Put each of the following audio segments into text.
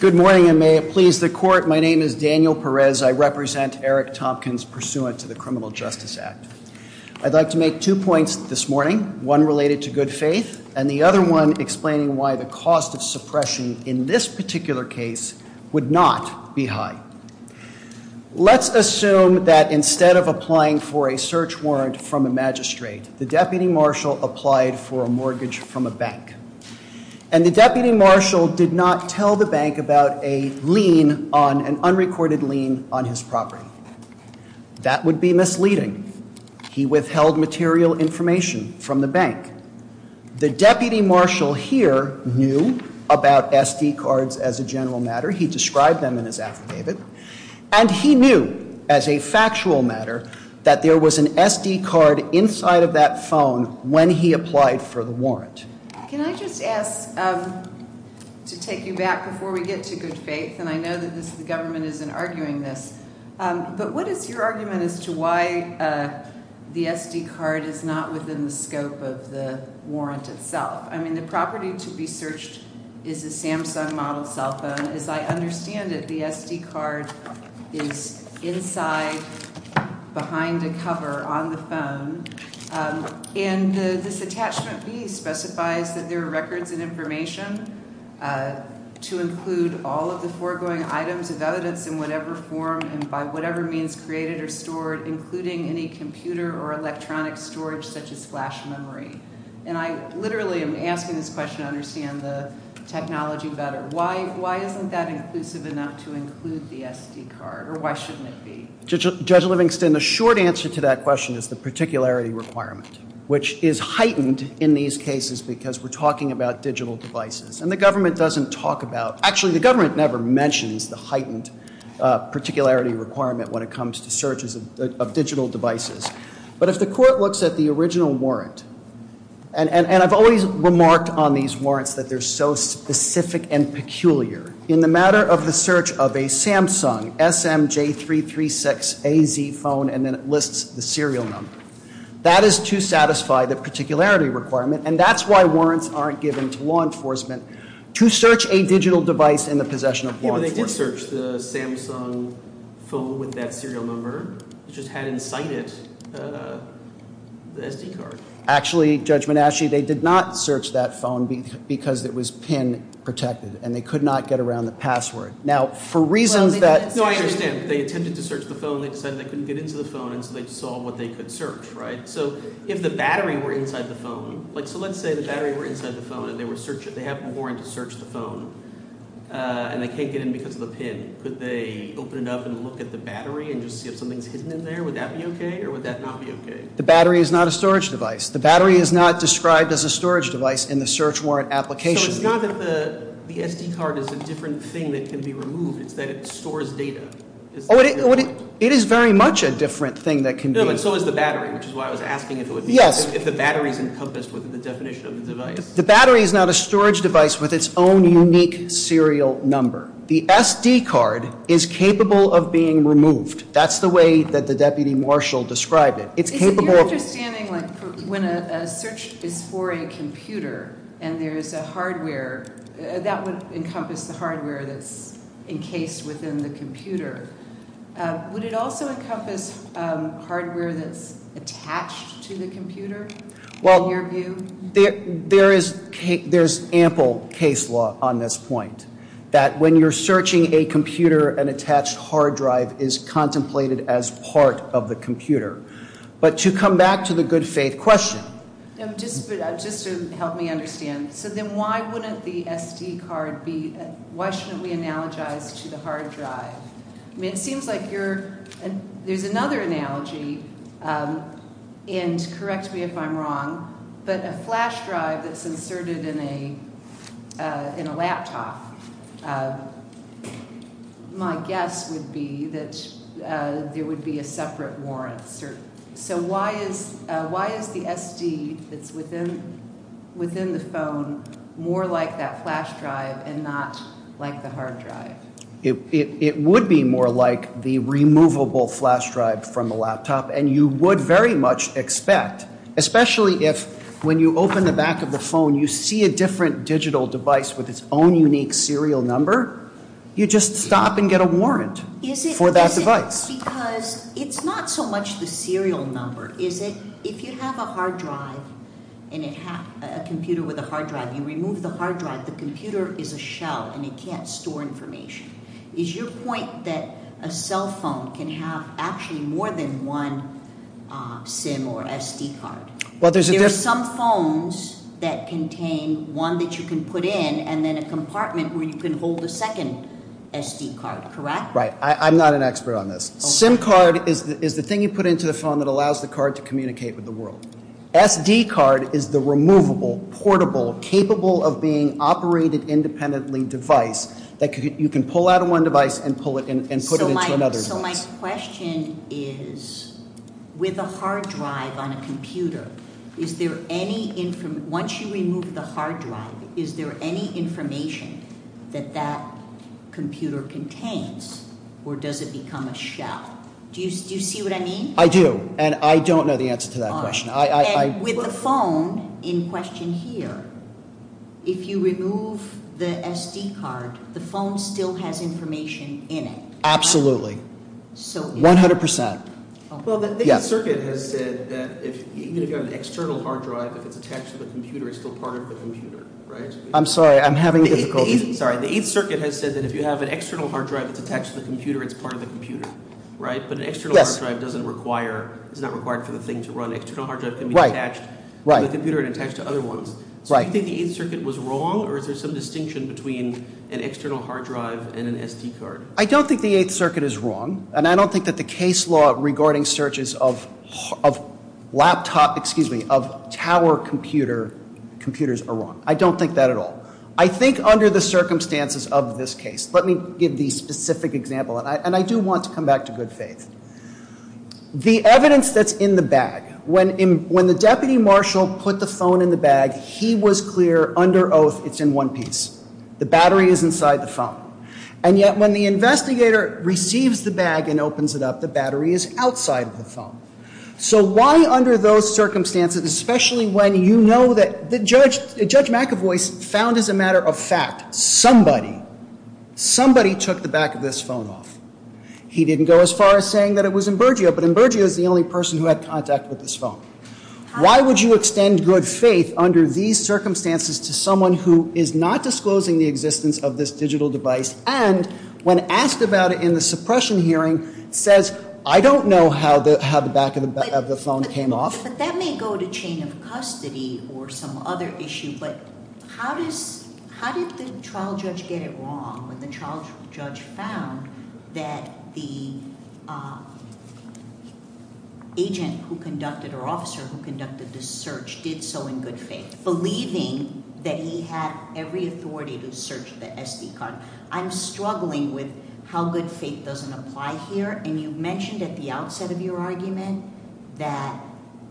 Good morning and may it please the court. My name is Daniel Perez. I represent Eric Tompkins pursuant to the Criminal Justice Act. I'd like to make two points this morning, one related to good faith and the other one explaining why the cost of suppression in this particular case would not be high. Let's assume that instead of applying for a search warrant from a magistrate, the deputy marshal applied for a mortgage from a bank. And the deputy marshal did not tell the bank about a lien on an unrecorded lien on his property. That would be misleading. He withheld material information from the bank. The deputy marshal here knew about SD cards as a general matter. He described them in his affidavit. And he knew as a factual matter that there was an SD card inside of that phone when he applied for the warrant. Can I just ask to take you back before we get to good faith, and I know that the government isn't arguing this, but what is your argument as to why the SD card is not within the scope of the warrant itself? I mean, the property to be searched is a Samsung model cell phone. As I understand it, the SD card is inside behind a cover on the phone. And this attachment B specifies that there are records and information to include all of the foregoing items of evidence in whatever form and by whatever means created or stored, including any computer or electronic storage such as flash memory. And I literally am asking this question to understand the technology better. Why isn't that inclusive enough to include the SD card, or why shouldn't it be? Judge Livingston, the short answer to that question is the particularity requirement, which is heightened in these cases because we're talking about digital devices. And the government doesn't talk about, actually the government never mentions the heightened particularity requirement when it comes to searches. of digital devices. But if the court looks at the original warrant, and I've always remarked on these warrants that they're so specific and peculiar. In the matter of the search of a Samsung SM-J336AZ phone, and then it lists the serial number. That is to satisfy the particularity requirement, and that's why warrants aren't given to law enforcement to search a digital device in the possession of law enforcement. But they did search the Samsung phone with that serial number. It just had inside it the SD card. Actually, Judge Monashi, they did not search that phone because it was PIN-protected, and they could not get around the password. Now, for reasons that... No, I understand. They attempted to search the phone, they decided they couldn't get into the phone, and so they saw what they could search, right? So if the battery were inside the phone, like so let's say the battery were inside the phone and they were searching, if they have a warrant to search the phone, and they can't get in because of the PIN, could they open it up and look at the battery and just see if something's hidden in there? Would that be okay, or would that not be okay? The battery is not a storage device. The battery is not described as a storage device in the search warrant application. So it's not that the SD card is a different thing that can be removed, it's that it stores data? It is very much a different thing that can be... No, but so is the battery, which is why I was asking if it would be... Yes. ...if the battery is encompassed within the definition of the device. The battery is not a storage device with its own unique serial number. The SD card is capable of being removed. That's the way that the Deputy Marshall described it. It's capable of... Is it your understanding, like, when a search is for a computer and there is a hardware, that would encompass the hardware that's encased within the computer. Would it also encompass hardware that's attached to the computer, in your view? There is ample case law on this point, that when you're searching a computer, an attached hard drive is contemplated as part of the computer. But to come back to the good faith question... Just to help me understand, so then why wouldn't the SD card be... Why shouldn't we analogize to the hard drive? I mean, it seems like you're... There's another analogy, and correct me if I'm wrong, but a flash drive that's inserted in a laptop, my guess would be that there would be a separate warrant. So why is the SD that's within the phone more like that flash drive and not like the hard drive? It would be more like the removable flash drive from a laptop, and you would very much expect, especially if, when you open the back of the phone, you see a different digital device with its own unique serial number, you just stop and get a warrant for that device. Because it's not so much the serial number. If you have a hard drive, a computer with a hard drive, you remove the hard drive, the computer is a shell and it can't store information. Is your point that a cell phone can have actually more than one SIM or SD card? There are some phones that contain one that you can put in and then a compartment where you can hold a second SD card, correct? Right. I'm not an expert on this. SIM card is the thing you put into the phone that allows the card to communicate with the world. SD card is the removable, portable, capable-of-being-operated-independently device that you can pull out of one device and put it into another device. So my question is, with a hard drive on a computer, is there any information, once you remove the hard drive, is there any information that that computer contains or does it become a shell? Do you see what I mean? I do. And I don't know the answer to that question. With the phone, in question here, if you remove the SD card, the phone still has information in it. Absolutely. 100%. Well, the 8th Circuit has said that even if you have an external hard drive, if it's attached to the computer, it's still part of the computer, right? I'm sorry, I'm having difficulty. Sorry, the 8th Circuit has said that if you have an external hard drive that's attached to the computer, it's part of the computer, right? But an external hard drive doesn't require, it's not required for the thing to run. External hard drive can be attached to the computer and attached to other ones. So do you think the 8th Circuit was wrong or is there some distinction between an external hard drive and an SD card? I don't think the 8th Circuit is wrong, and I don't think that the case law regarding searches of laptop, excuse me, of tower computers are wrong. I don't think that at all. I think under the circumstances of this case, let me give the specific example, and I do want to come back to good faith. The evidence that's in the bag, when the deputy marshal put the phone in the bag, he was clear under oath it's in one piece. The battery is inside the phone. And yet when the investigator receives the bag and opens it up, the battery is outside of the phone. So why under those circumstances, especially when you know that Judge McEvoy found as a matter of fact somebody, somebody took the back of this phone off. He didn't go as far as saying that it was Imburgio, but Imburgio is the only person who had contact with this phone. Why would you extend good faith under these circumstances to someone who is not disclosing the existence of this digital device and when asked about it in the suppression hearing, says, I don't know how the back of the phone came off. Yes, but that may go to chain of custody or some other issue, but how did the trial judge get it wrong when the trial judge found that the agent who conducted or officer who conducted the search did so in good faith, believing that he had every authority to search the SD card. I'm struggling with how good faith doesn't apply here, and you mentioned at the outset of your argument that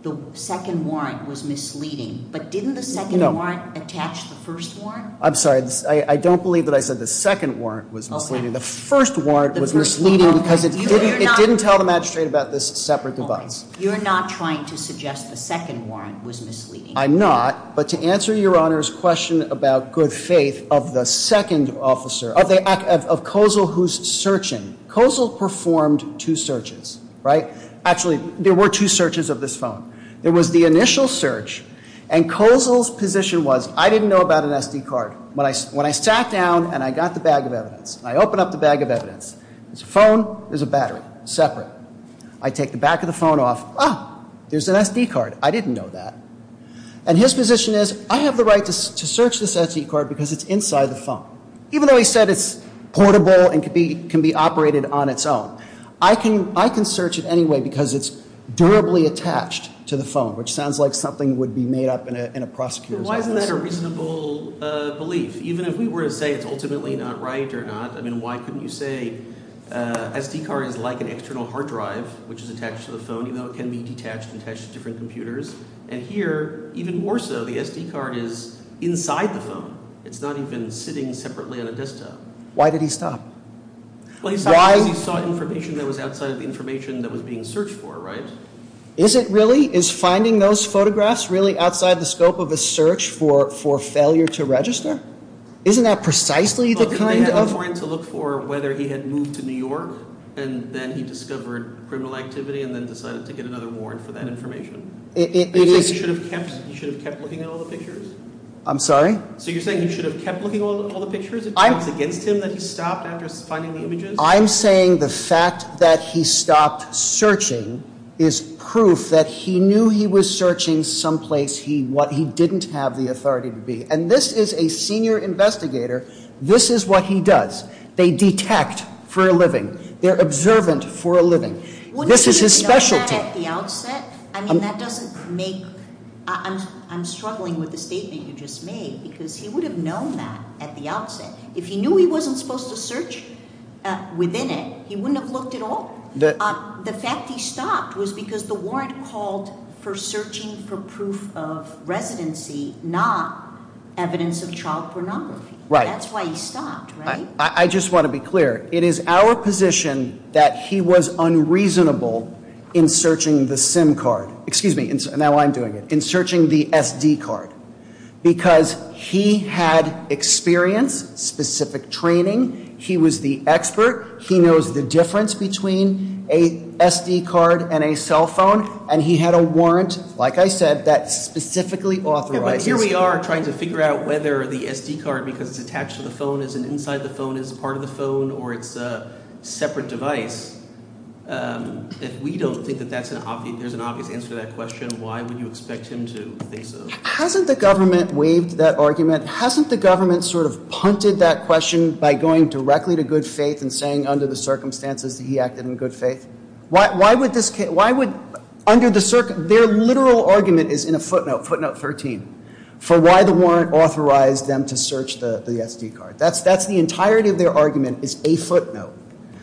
the second warrant was misleading, but didn't the second warrant attach the first warrant? I'm sorry. I don't believe that I said the second warrant was misleading. The first warrant was misleading because it didn't tell the magistrate about this separate device. You're not trying to suggest the second warrant was misleading. I'm not, but to answer Your Honor's question about good faith of the second officer, of Kozel who's searching, Kozel performed two searches, right? Actually, there were two searches of this phone. There was the initial search, and Kozel's position was, I didn't know about an SD card. When I sat down and I got the bag of evidence, I open up the bag of evidence. There's a phone, there's a battery, separate. I take the back of the phone off. Ah, there's an SD card. I didn't know that. And his position is, I have the right to search this SD card because it's inside the phone. Even though he said it's portable and can be operated on its own. I can search it anyway because it's durably attached to the phone, which sounds like something that would be made up in a prosecutor's office. Why isn't that a reasonable belief? Even if we were to say it's ultimately not right or not, I mean, why couldn't you say, SD card is like an external hard drive, which is attached to the phone, even though it can be detached and attached to different computers. And here, even more so, the SD card is inside the phone. It's not even sitting separately on a desktop. Why did he stop? Well, he stopped because he saw information that was outside of the information that was being searched for, right? Is it really? Is finding those photographs really outside the scope of a search for failure to register? Isn't that precisely the kind of... Well, didn't they have a point to look for whether he had moved to New York and then he discovered criminal activity and then decided to get another warrant for that information? It is... He should have kept looking at all the pictures? I'm sorry? So you're saying he should have kept looking at all the pictures? It's against him that he stopped after finding the images? I'm saying the fact that he stopped searching is proof that he knew he was searching someplace he didn't have the authority to be. And this is a senior investigator. This is what he does. They detect for a living. They're observant for a living. This is his specialty. Wouldn't you have known that at the outset? I mean, that doesn't make... I'm struggling with the statement you just made because he would have known that at the outset. If he knew he wasn't supposed to search within it, he wouldn't have looked at all. The fact he stopped was because the warrant called for searching for proof of residency, not evidence of child pornography. That's why he stopped, right? I just want to be clear. It is our position that he was unreasonable in searching the SIM card. Excuse me. Now I'm doing it. In searching the SD card. Because he had experience, specific training. He was the expert. He knows the difference between a SD card and a cell phone. And he had a warrant, like I said, that specifically authorized... But here we are trying to figure out whether the SD card, because it's attached to the phone, is inside the phone, is part of the phone, or it's a separate device. If we don't think that there's an obvious answer to that question, why would you expect him to think so? Hasn't the government waived that argument? Hasn't the government sort of punted that question by going directly to good faith and saying under the circumstances that he acted in good faith? Why would this case... Their literal argument is in a footnote, footnote 13, for why the warrant authorized them to search the SD card. That's the entirety of their argument is a footnote.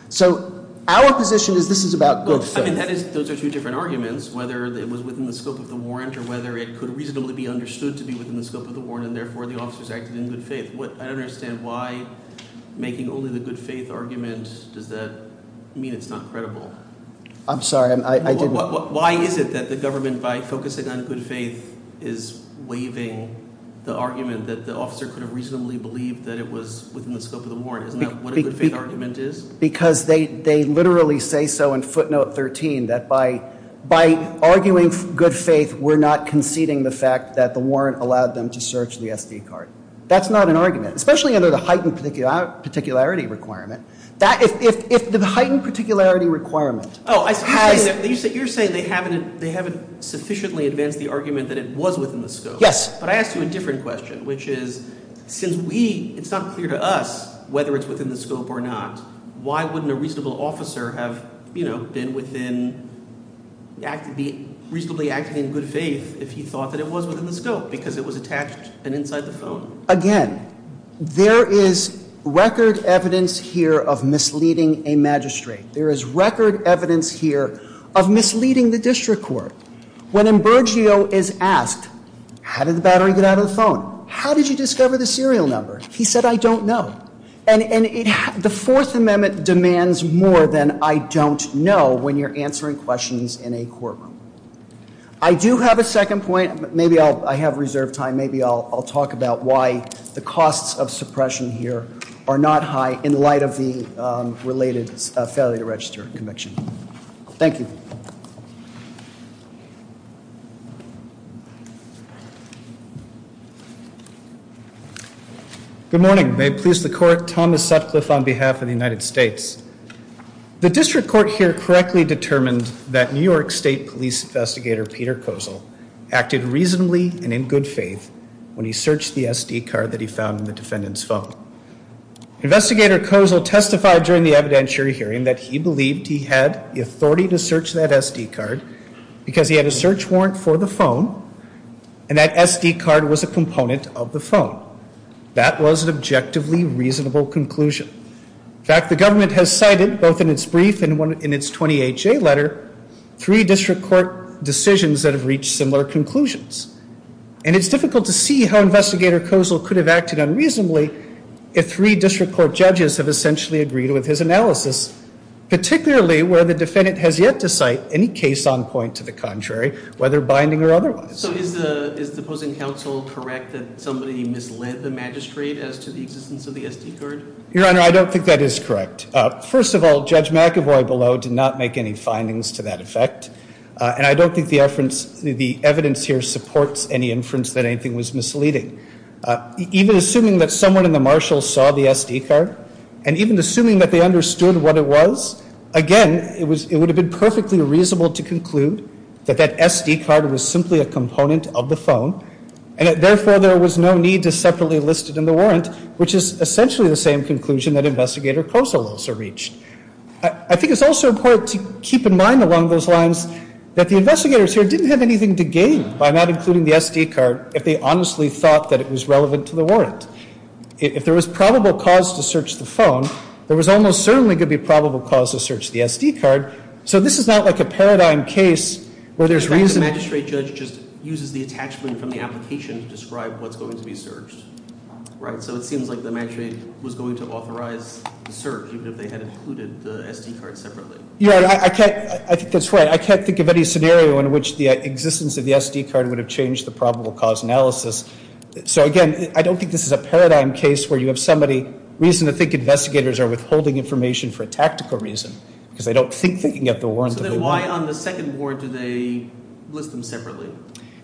So our position is this is about good faith. Those are two different arguments, whether it was within the scope of the warrant or whether it could reasonably be understood to be within the scope of the warrant and therefore the officers acted in good faith. I don't understand why making only the good faith argument, does that mean it's not credible? I'm sorry, I didn't... Why is it that the government, by focusing on good faith, is waiving the argument that the officer could have reasonably believed that it was within the scope of the warrant? Isn't that what a good faith argument is? Because they literally say so in footnote 13 that by arguing good faith, we're not conceding the fact that the warrant allowed them to search the SD card. That's not an argument, especially under the heightened particularity requirement. If the heightened particularity requirement has... Oh, you're saying they haven't sufficiently advanced the argument that it was within the scope. Yes. But I asked you a different question, which is since we, it's not clear to us whether it's within the scope or not, why wouldn't a reasonable officer have, you know, been within... be reasonably acting in good faith if he thought that it was within the scope because it was attached and inside the phone? Again, there is record evidence here of misleading a magistrate. There is record evidence here of misleading the district court. When Ambergio is asked, how did the battery get out of the phone? How did you discover the serial number? He said, I don't know. And the Fourth Amendment demands more than I don't know when you're answering questions in a courtroom. I do have a second point. Maybe I have reserved time. Maybe I'll talk about why the costs of suppression here are not high in light of the related failure to register conviction. Thank you. Good morning. May it please the court. Thomas Sutcliffe on behalf of the United States. The district court here correctly determined that New York State Police Investigator Peter Kozol acted reasonably and in good faith when he searched the SD card that he found in the defendant's phone. Investigator Kozol testified during the evidentiary hearing that he believed he had the authority to search that SD card because he had a search warrant for the phone and that SD card was a component of the phone. That was an objectively reasonable conclusion. In fact, the government has cited, both in its brief and in its 20HA letter, three district court decisions that have reached similar conclusions. And it's difficult to see how Investigator Kozol could have acted unreasonably if three district court judges have essentially agreed with his analysis, particularly where the defendant has yet to cite any case on point to the contrary, whether binding or otherwise. So is the opposing counsel correct that somebody misled the magistrate as to the existence of the SD card? Your Honor, I don't think that is correct. First of all, Judge McEvoy below did not make any findings to that effect, and I don't think the evidence here supports any inference that anything was misleading. Even assuming that someone in the marshal saw the SD card and even assuming that they understood what it was, again, it would have been perfectly reasonable to conclude that that SD card was simply a component of the phone and therefore there was no need to separately list it in the warrant, which is essentially the same conclusion that Investigator Kozol also reached. I think it's also important to keep in mind along those lines that the investigators here didn't have anything to gain by not including the SD card if they honestly thought that it was relevant to the warrant. If there was probable cause to search the phone, there was almost certainly going to be probable cause to search the SD card. So this is not like a paradigm case where there's reason... The magistrate judge just uses the attachment from the application to describe what's going to be searched, right? So it seems like the magistrate was going to authorize the search even if they had included the SD card separately. Your Honor, I think that's right. I can't think of any scenario in which the existence of the SD card would have changed the probable cause analysis. So again, I don't think this is a paradigm case where you have reason to think investigators are withholding information for a tactical reason because they don't think they can get the warrant of the warrant. So then why on the second warrant do they list them separately?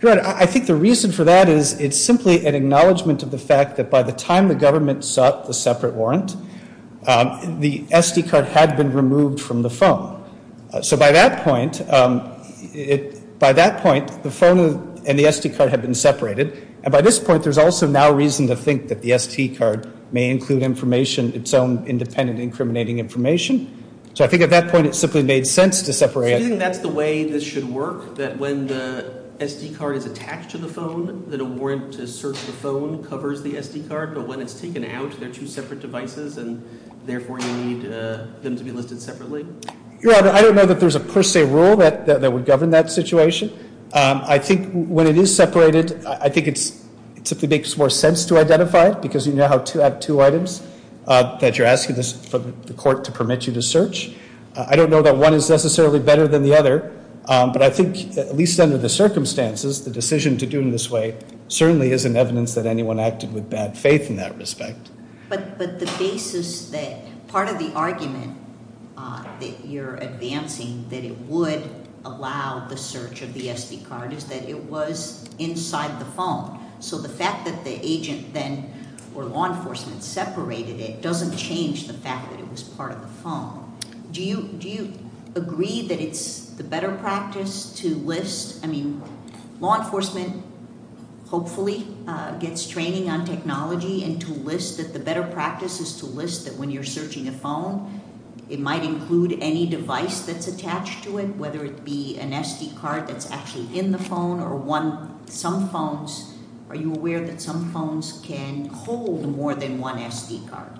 Your Honor, I think the reason for that is it's simply an acknowledgement of the fact that by the time the government sought the separate warrant, the SD card had been removed from the phone. So by that point, the phone and the SD card had been separated. And by this point, there's also now reason to think that the SD card may include information, its own independent incriminating information. So I think at that point, it simply made sense to separate it. So you think that's the way this should work, that when the SD card is attached to the phone, that a warrant to search the phone covers the SD card, but when it's taken out, they're two separate devices, and therefore you need them to be listed separately? Your Honor, I don't know that there's a per se rule that would govern that situation. I think when it is separated, I think it simply makes more sense to identify it that you're asking the court to permit you to search. I don't know that one is necessarily better than the other, but I think at least under the circumstances, the decision to do it in this way certainly isn't evidence that anyone acted with bad faith in that respect. But the basis that part of the argument that you're advancing, that it would allow the search of the SD card, is that it was inside the phone. So the fact that the agent then, or law enforcement, separated it doesn't change the fact that it was part of the phone. Do you agree that it's the better practice to list? I mean, law enforcement hopefully gets training on technology, and to list that the better practice is to list that when you're searching a phone, it might include any device that's attached to it, whether it be an SD card that's actually in the phone, or some phones, are you aware that some phones can hold more than one SD card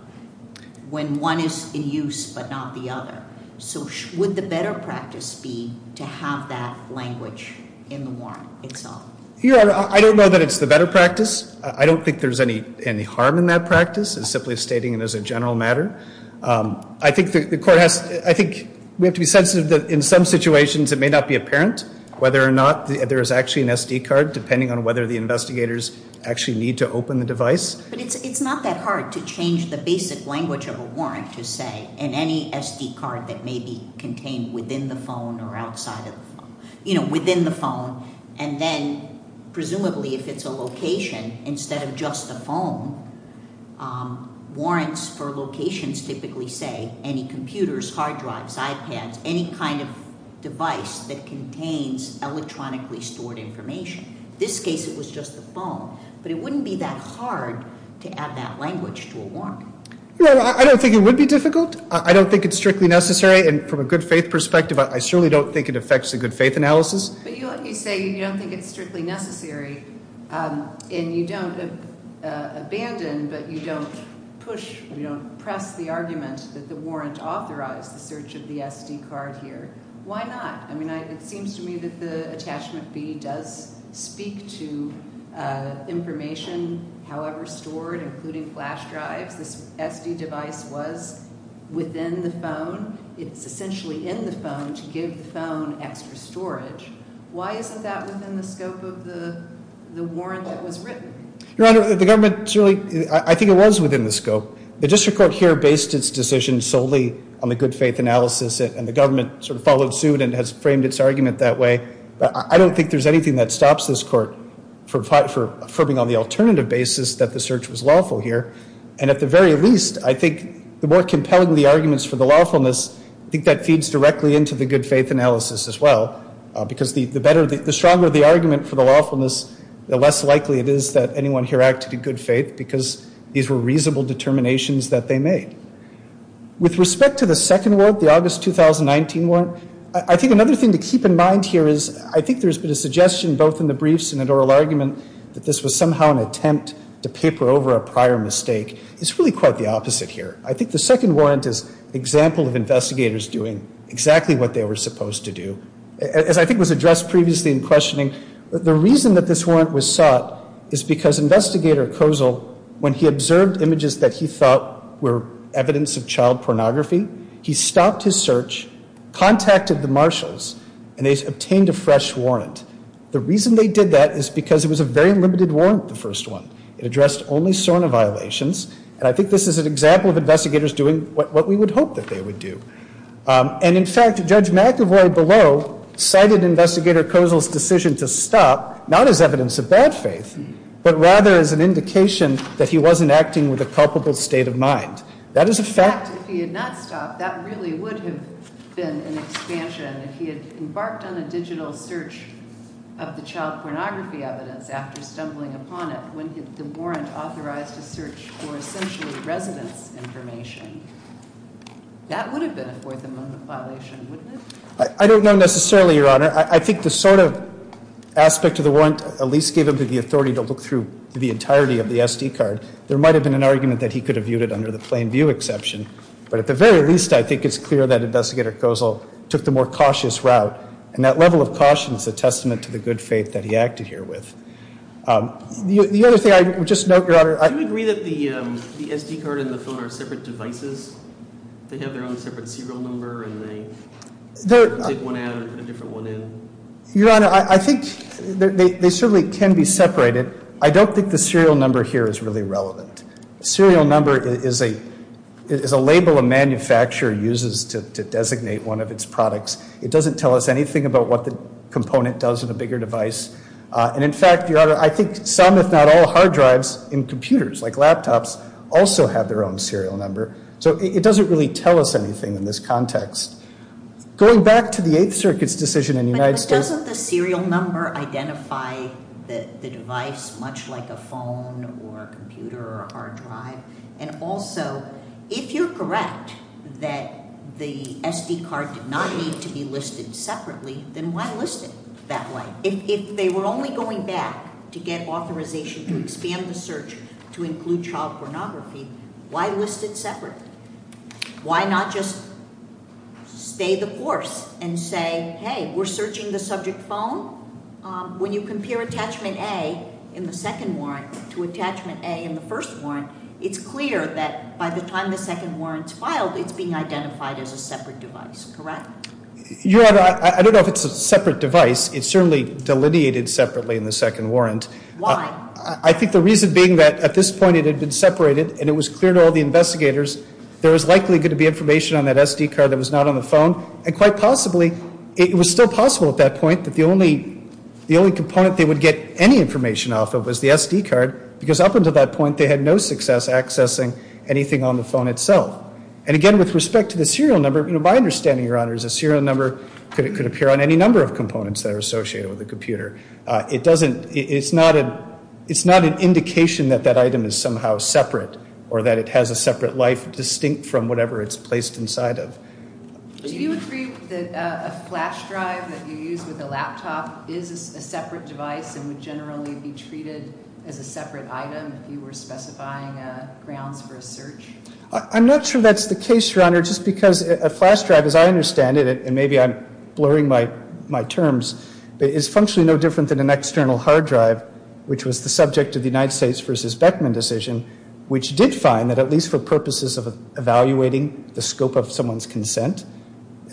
when one is in use but not the other? So would the better practice be to have that language in the warrant itself? Your Honor, I don't know that it's the better practice. I don't think there's any harm in that practice. It's simply stating it as a general matter. I think we have to be sensitive that in some situations it may not be apparent whether or not there is actually an SD card, depending on whether the investigators actually need to open the device. But it's not that hard to change the basic language of a warrant to say, in any SD card that may be contained within the phone or outside of the phone, you know, within the phone, and then presumably if it's a location, instead of just the phone, warrants for locations typically say any computers, hard drives, iPads, any kind of device that contains electronically stored information. In this case it was just the phone. But it wouldn't be that hard to add that language to a warrant. Your Honor, I don't think it would be difficult. I don't think it's strictly necessary, and from a good faith perspective, I certainly don't think it affects the good faith analysis. But you say you don't think it's strictly necessary, and you don't abandon, but you don't push, you don't press the argument that the warrant authorized the search of the SD card here. Why not? I mean, it seems to me that the attachment B does speak to information, however stored, including flash drives. This SD device was within the phone. It's essentially in the phone to give the phone extra storage. Why isn't that within the scope of the warrant that was written? Your Honor, the government, I think it was within the scope. The district court here based its decision solely on the good faith analysis, and the government sort of followed suit and has framed its argument that way. I don't think there's anything that stops this court from affirming on the alternative basis that the search was lawful here. And at the very least, I think the more compelling the arguments for the lawfulness, I think that feeds directly into the good faith analysis as well, because the stronger the argument for the lawfulness, the less likely it is that anyone here acted in good faith because these were reasonable determinations that they made. With respect to the second warrant, the August 2019 warrant, I think another thing to keep in mind here is I think there's been a suggestion, both in the briefs and in oral argument, that this was somehow an attempt to paper over a prior mistake. It's really quite the opposite here. I think the second warrant is an example of investigators doing exactly what they were supposed to do. As I think was addressed previously in questioning, the reason that this warrant was sought is because Investigator Kozel, when he observed images that he thought were evidence of child pornography, he stopped his search, contacted the marshals, and they obtained a fresh warrant. The reason they did that is because it was a very limited warrant, the first one. It addressed only SORNA violations, and I think this is an example of investigators doing what we would hope that they would do. In fact, Judge McEvoy below cited Investigator Kozel's decision to stop, not as evidence of bad faith, but rather as an indication that he wasn't acting with a culpable state of mind. That is a fact. If he had not stopped, that really would have been an expansion. If he had embarked on a digital search of the child pornography evidence after stumbling upon it, when the warrant authorized a search for essentially residence information, that would have been a fourth amendment violation, wouldn't it? I don't know necessarily, Your Honor. I think the sort of aspect of the warrant at least gave him the authority to look through the entirety of the SD card. There might have been an argument that he could have viewed it under the plain view exception, but at the very least, I think it's clear that Investigator Kozel took the more cautious route, and that level of caution is a testament to the good faith that he acted here with. The other thing I would just note, Your Honor. Do you agree that the SD card and the phone are separate devices? They have their own separate serial number, and they take one out and put a different one in? Your Honor, I think they certainly can be separated. I don't think the serial number here is really relevant. A serial number is a label a manufacturer uses to designate one of its products. It doesn't tell us anything about what the component does in a bigger device. And in fact, Your Honor, I think some, if not all, hard drives in computers like laptops also have their own serial number. So it doesn't really tell us anything in this context. Going back to the Eighth Circuit's decision in the United States. But doesn't the serial number identify the device much like a phone or a computer or a hard drive? And also, if you're correct that the SD card did not need to be listed separately, then why list it that way? If they were only going back to get authorization to expand the search to include child pornography, why list it separate? Why not just stay the course and say, hey, we're searching the subject phone? When you compare Attachment A in the second warrant to Attachment A in the first warrant, it's clear that by the time the second warrant's filed, it's being identified as a separate device, correct? Your Honor, I don't know if it's a separate device. It's certainly delineated separately in the second warrant. Why? I think the reason being that at this point it had been separated and it was clear to all the investigators there was likely going to be information on that SD card that was not on the phone. And quite possibly, it was still possible at that point that the only component they would get any information off of was the SD card. Because up until that point, they had no success accessing anything on the phone itself. And again, with respect to the serial number, my understanding, Your Honor, is a serial number could appear on any number of components that are associated with a computer. It's not an indication that that item is somehow separate or that it has a separate life distinct from whatever it's placed inside of. Do you agree that a flash drive that you use with a laptop is a separate device and would generally be treated as a separate item if you were specifying grounds for a search? I'm not sure that's the case, Your Honor, just because a flash drive, as I understand it, and maybe I'm blurring my terms, is functionally no different than an external hard drive, which was the subject of the United States v. Beckman decision, which did find that at least for purposes of evaluating the scope of someone's consent,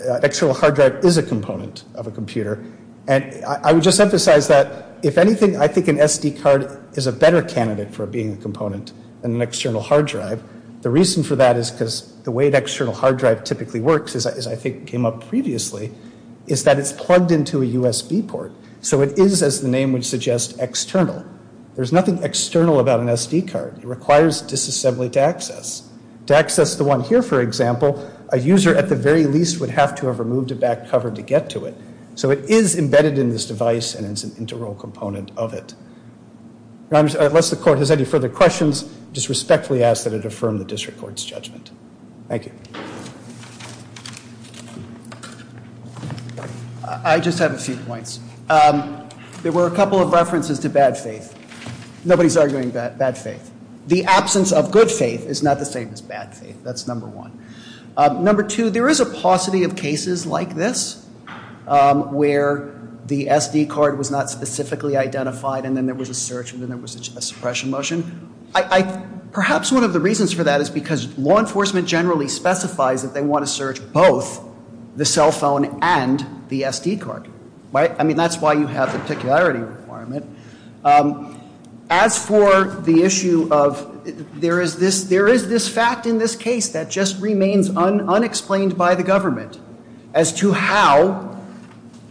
an external hard drive is a component of a computer. And I would just emphasize that if anything, I think an SD card is a better candidate for being a component than an external hard drive. The reason for that is because the way an external hard drive typically works, as I think came up previously, is that it's plugged into a USB port. So it is, as the name would suggest, external. There's nothing external about an SD card. It requires disassembly to access. To access the one here, for example, a user at the very least would have to have removed a back cover to get to it. So it is embedded in this device, and it's an integral component of it. Unless the court has any further questions, I just respectfully ask that it affirm the district court's judgment. Thank you. I just have a few points. There were a couple of references to bad faith. Nobody's arguing bad faith. The absence of good faith is not the same as bad faith. That's number one. Number two, there is a paucity of cases like this where the SD card was not specifically identified, and then there was a search, and then there was a suppression motion. Perhaps one of the reasons for that is because law enforcement generally specifies that they want to search both the cell phone and the SD card. I mean, that's why you have the particularity requirement. As for the issue of there is this fact in this case that just remains unexplained by the government as to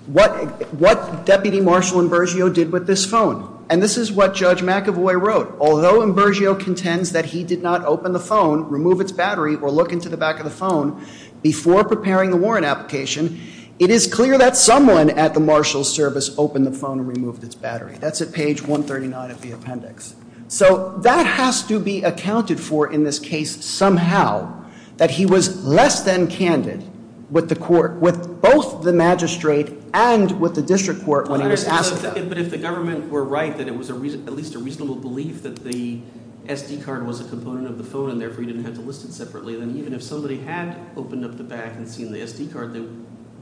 what Deputy Marshal Imbergio did with this phone. And this is what Judge McAvoy wrote. Although Imbergio contends that he did not open the phone, remove its battery, or look into the back of the phone before preparing the warrant application, it is clear that someone at the marshal's service opened the phone and removed its battery. That's at page 139 of the appendix. So that has to be accounted for in this case somehow, that he was less than candid with the court, with both the magistrate and with the district court when he was asked to. But if the government were right that it was at least a reasonable belief that the SD card was a component of the phone and therefore you didn't have to list it separately, then even if somebody had opened up the back and seen the SD card, they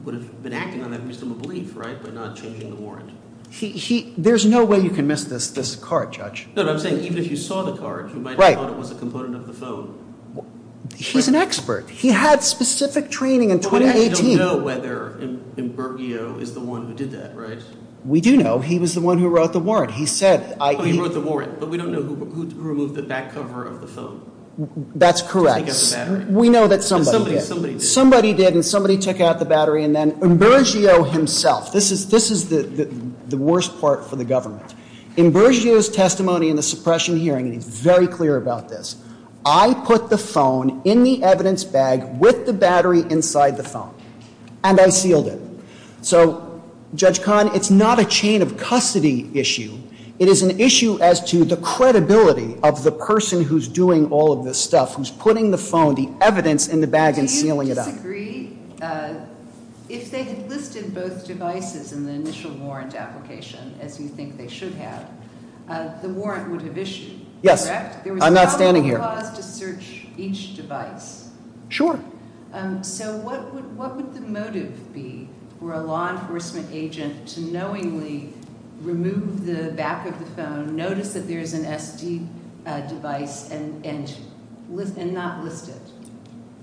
would have been acting on that reasonable belief, right, by not changing the warrant. There's no way you can miss this card, Judge. No, no, I'm saying even if you saw the card, you might have thought it was a component of the phone. He's an expert. He had specific training in 2018. But we actually don't know whether Imbergio is the one who did that, right? We do know he was the one who wrote the warrant. He wrote the warrant, but we don't know who removed the back cover of the phone. That's correct. Somebody did. Somebody did, and somebody took out the battery, and then Imbergio himself, this is the worst part for the government. Imbergio's testimony in the suppression hearing, and he's very clear about this, I put the phone in the evidence bag with the battery inside the phone, and I sealed it. So, Judge Kahn, it's not a chain of custody issue. It is an issue as to the credibility of the person who's doing all of this stuff, who's putting the phone, the evidence in the bag and sealing it up. Do you disagree? If they had listed both devices in the initial warrant application, as you think they should have, the warrant would have issued, correct? I'm not standing here. There was not a clause to search each device. Sure. So what would the motive be for a law enforcement agent to knowingly remove the back of the phone, notice that there's an SD device, and not list it?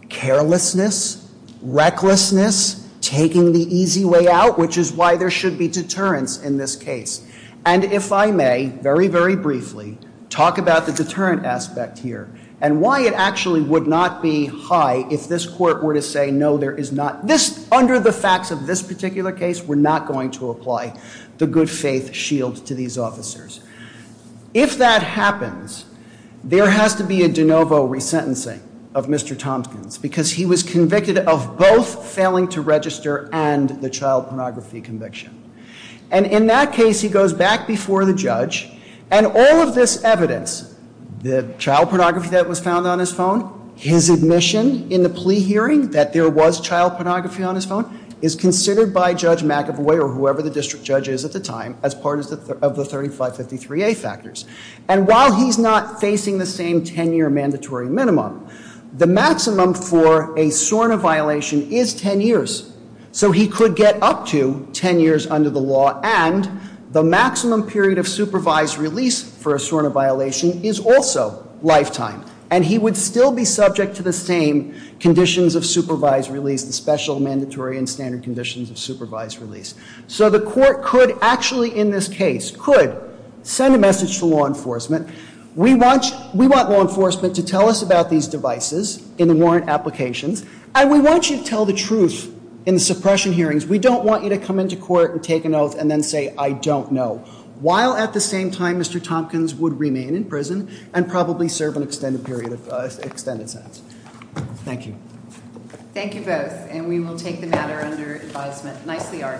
Carelessness, recklessness, taking the easy way out, which is why there should be deterrence in this case. And if I may, very, very briefly, talk about the deterrent aspect here and why it actually would not be high if this court were to say, no, there is not, under the facts of this particular case, we're not going to apply the good faith shield to these officers. If that happens, there has to be a de novo resentencing of Mr. Tompkins because he was convicted of both failing to register and the child pornography conviction. And in that case, he goes back before the judge, and all of this evidence, the child pornography that was found on his phone, his admission in the plea hearing that there was child pornography on his phone, is considered by Judge McAvoy or whoever the district judge is at the time as part of the 3553A factors. And while he's not facing the same 10-year mandatory minimum, the maximum for a SORNA violation is 10 years. So he could get up to 10 years under the law, and the maximum period of supervised release for a SORNA violation is also lifetime. And he would still be subject to the same conditions of supervised release, the special, mandatory, and standard conditions of supervised release. So the court could actually, in this case, could send a message to law enforcement, we want law enforcement to tell us about these devices in the warrant applications, and we want you to tell the truth in the suppression hearings. We don't want you to come into court and take an oath and then say, I don't know, while at the same time Mr. Tompkins would remain in prison and probably serve an extended period of extended sentence. Thank you. Thank you both, and we will take the matter under advisement. Nicely argued.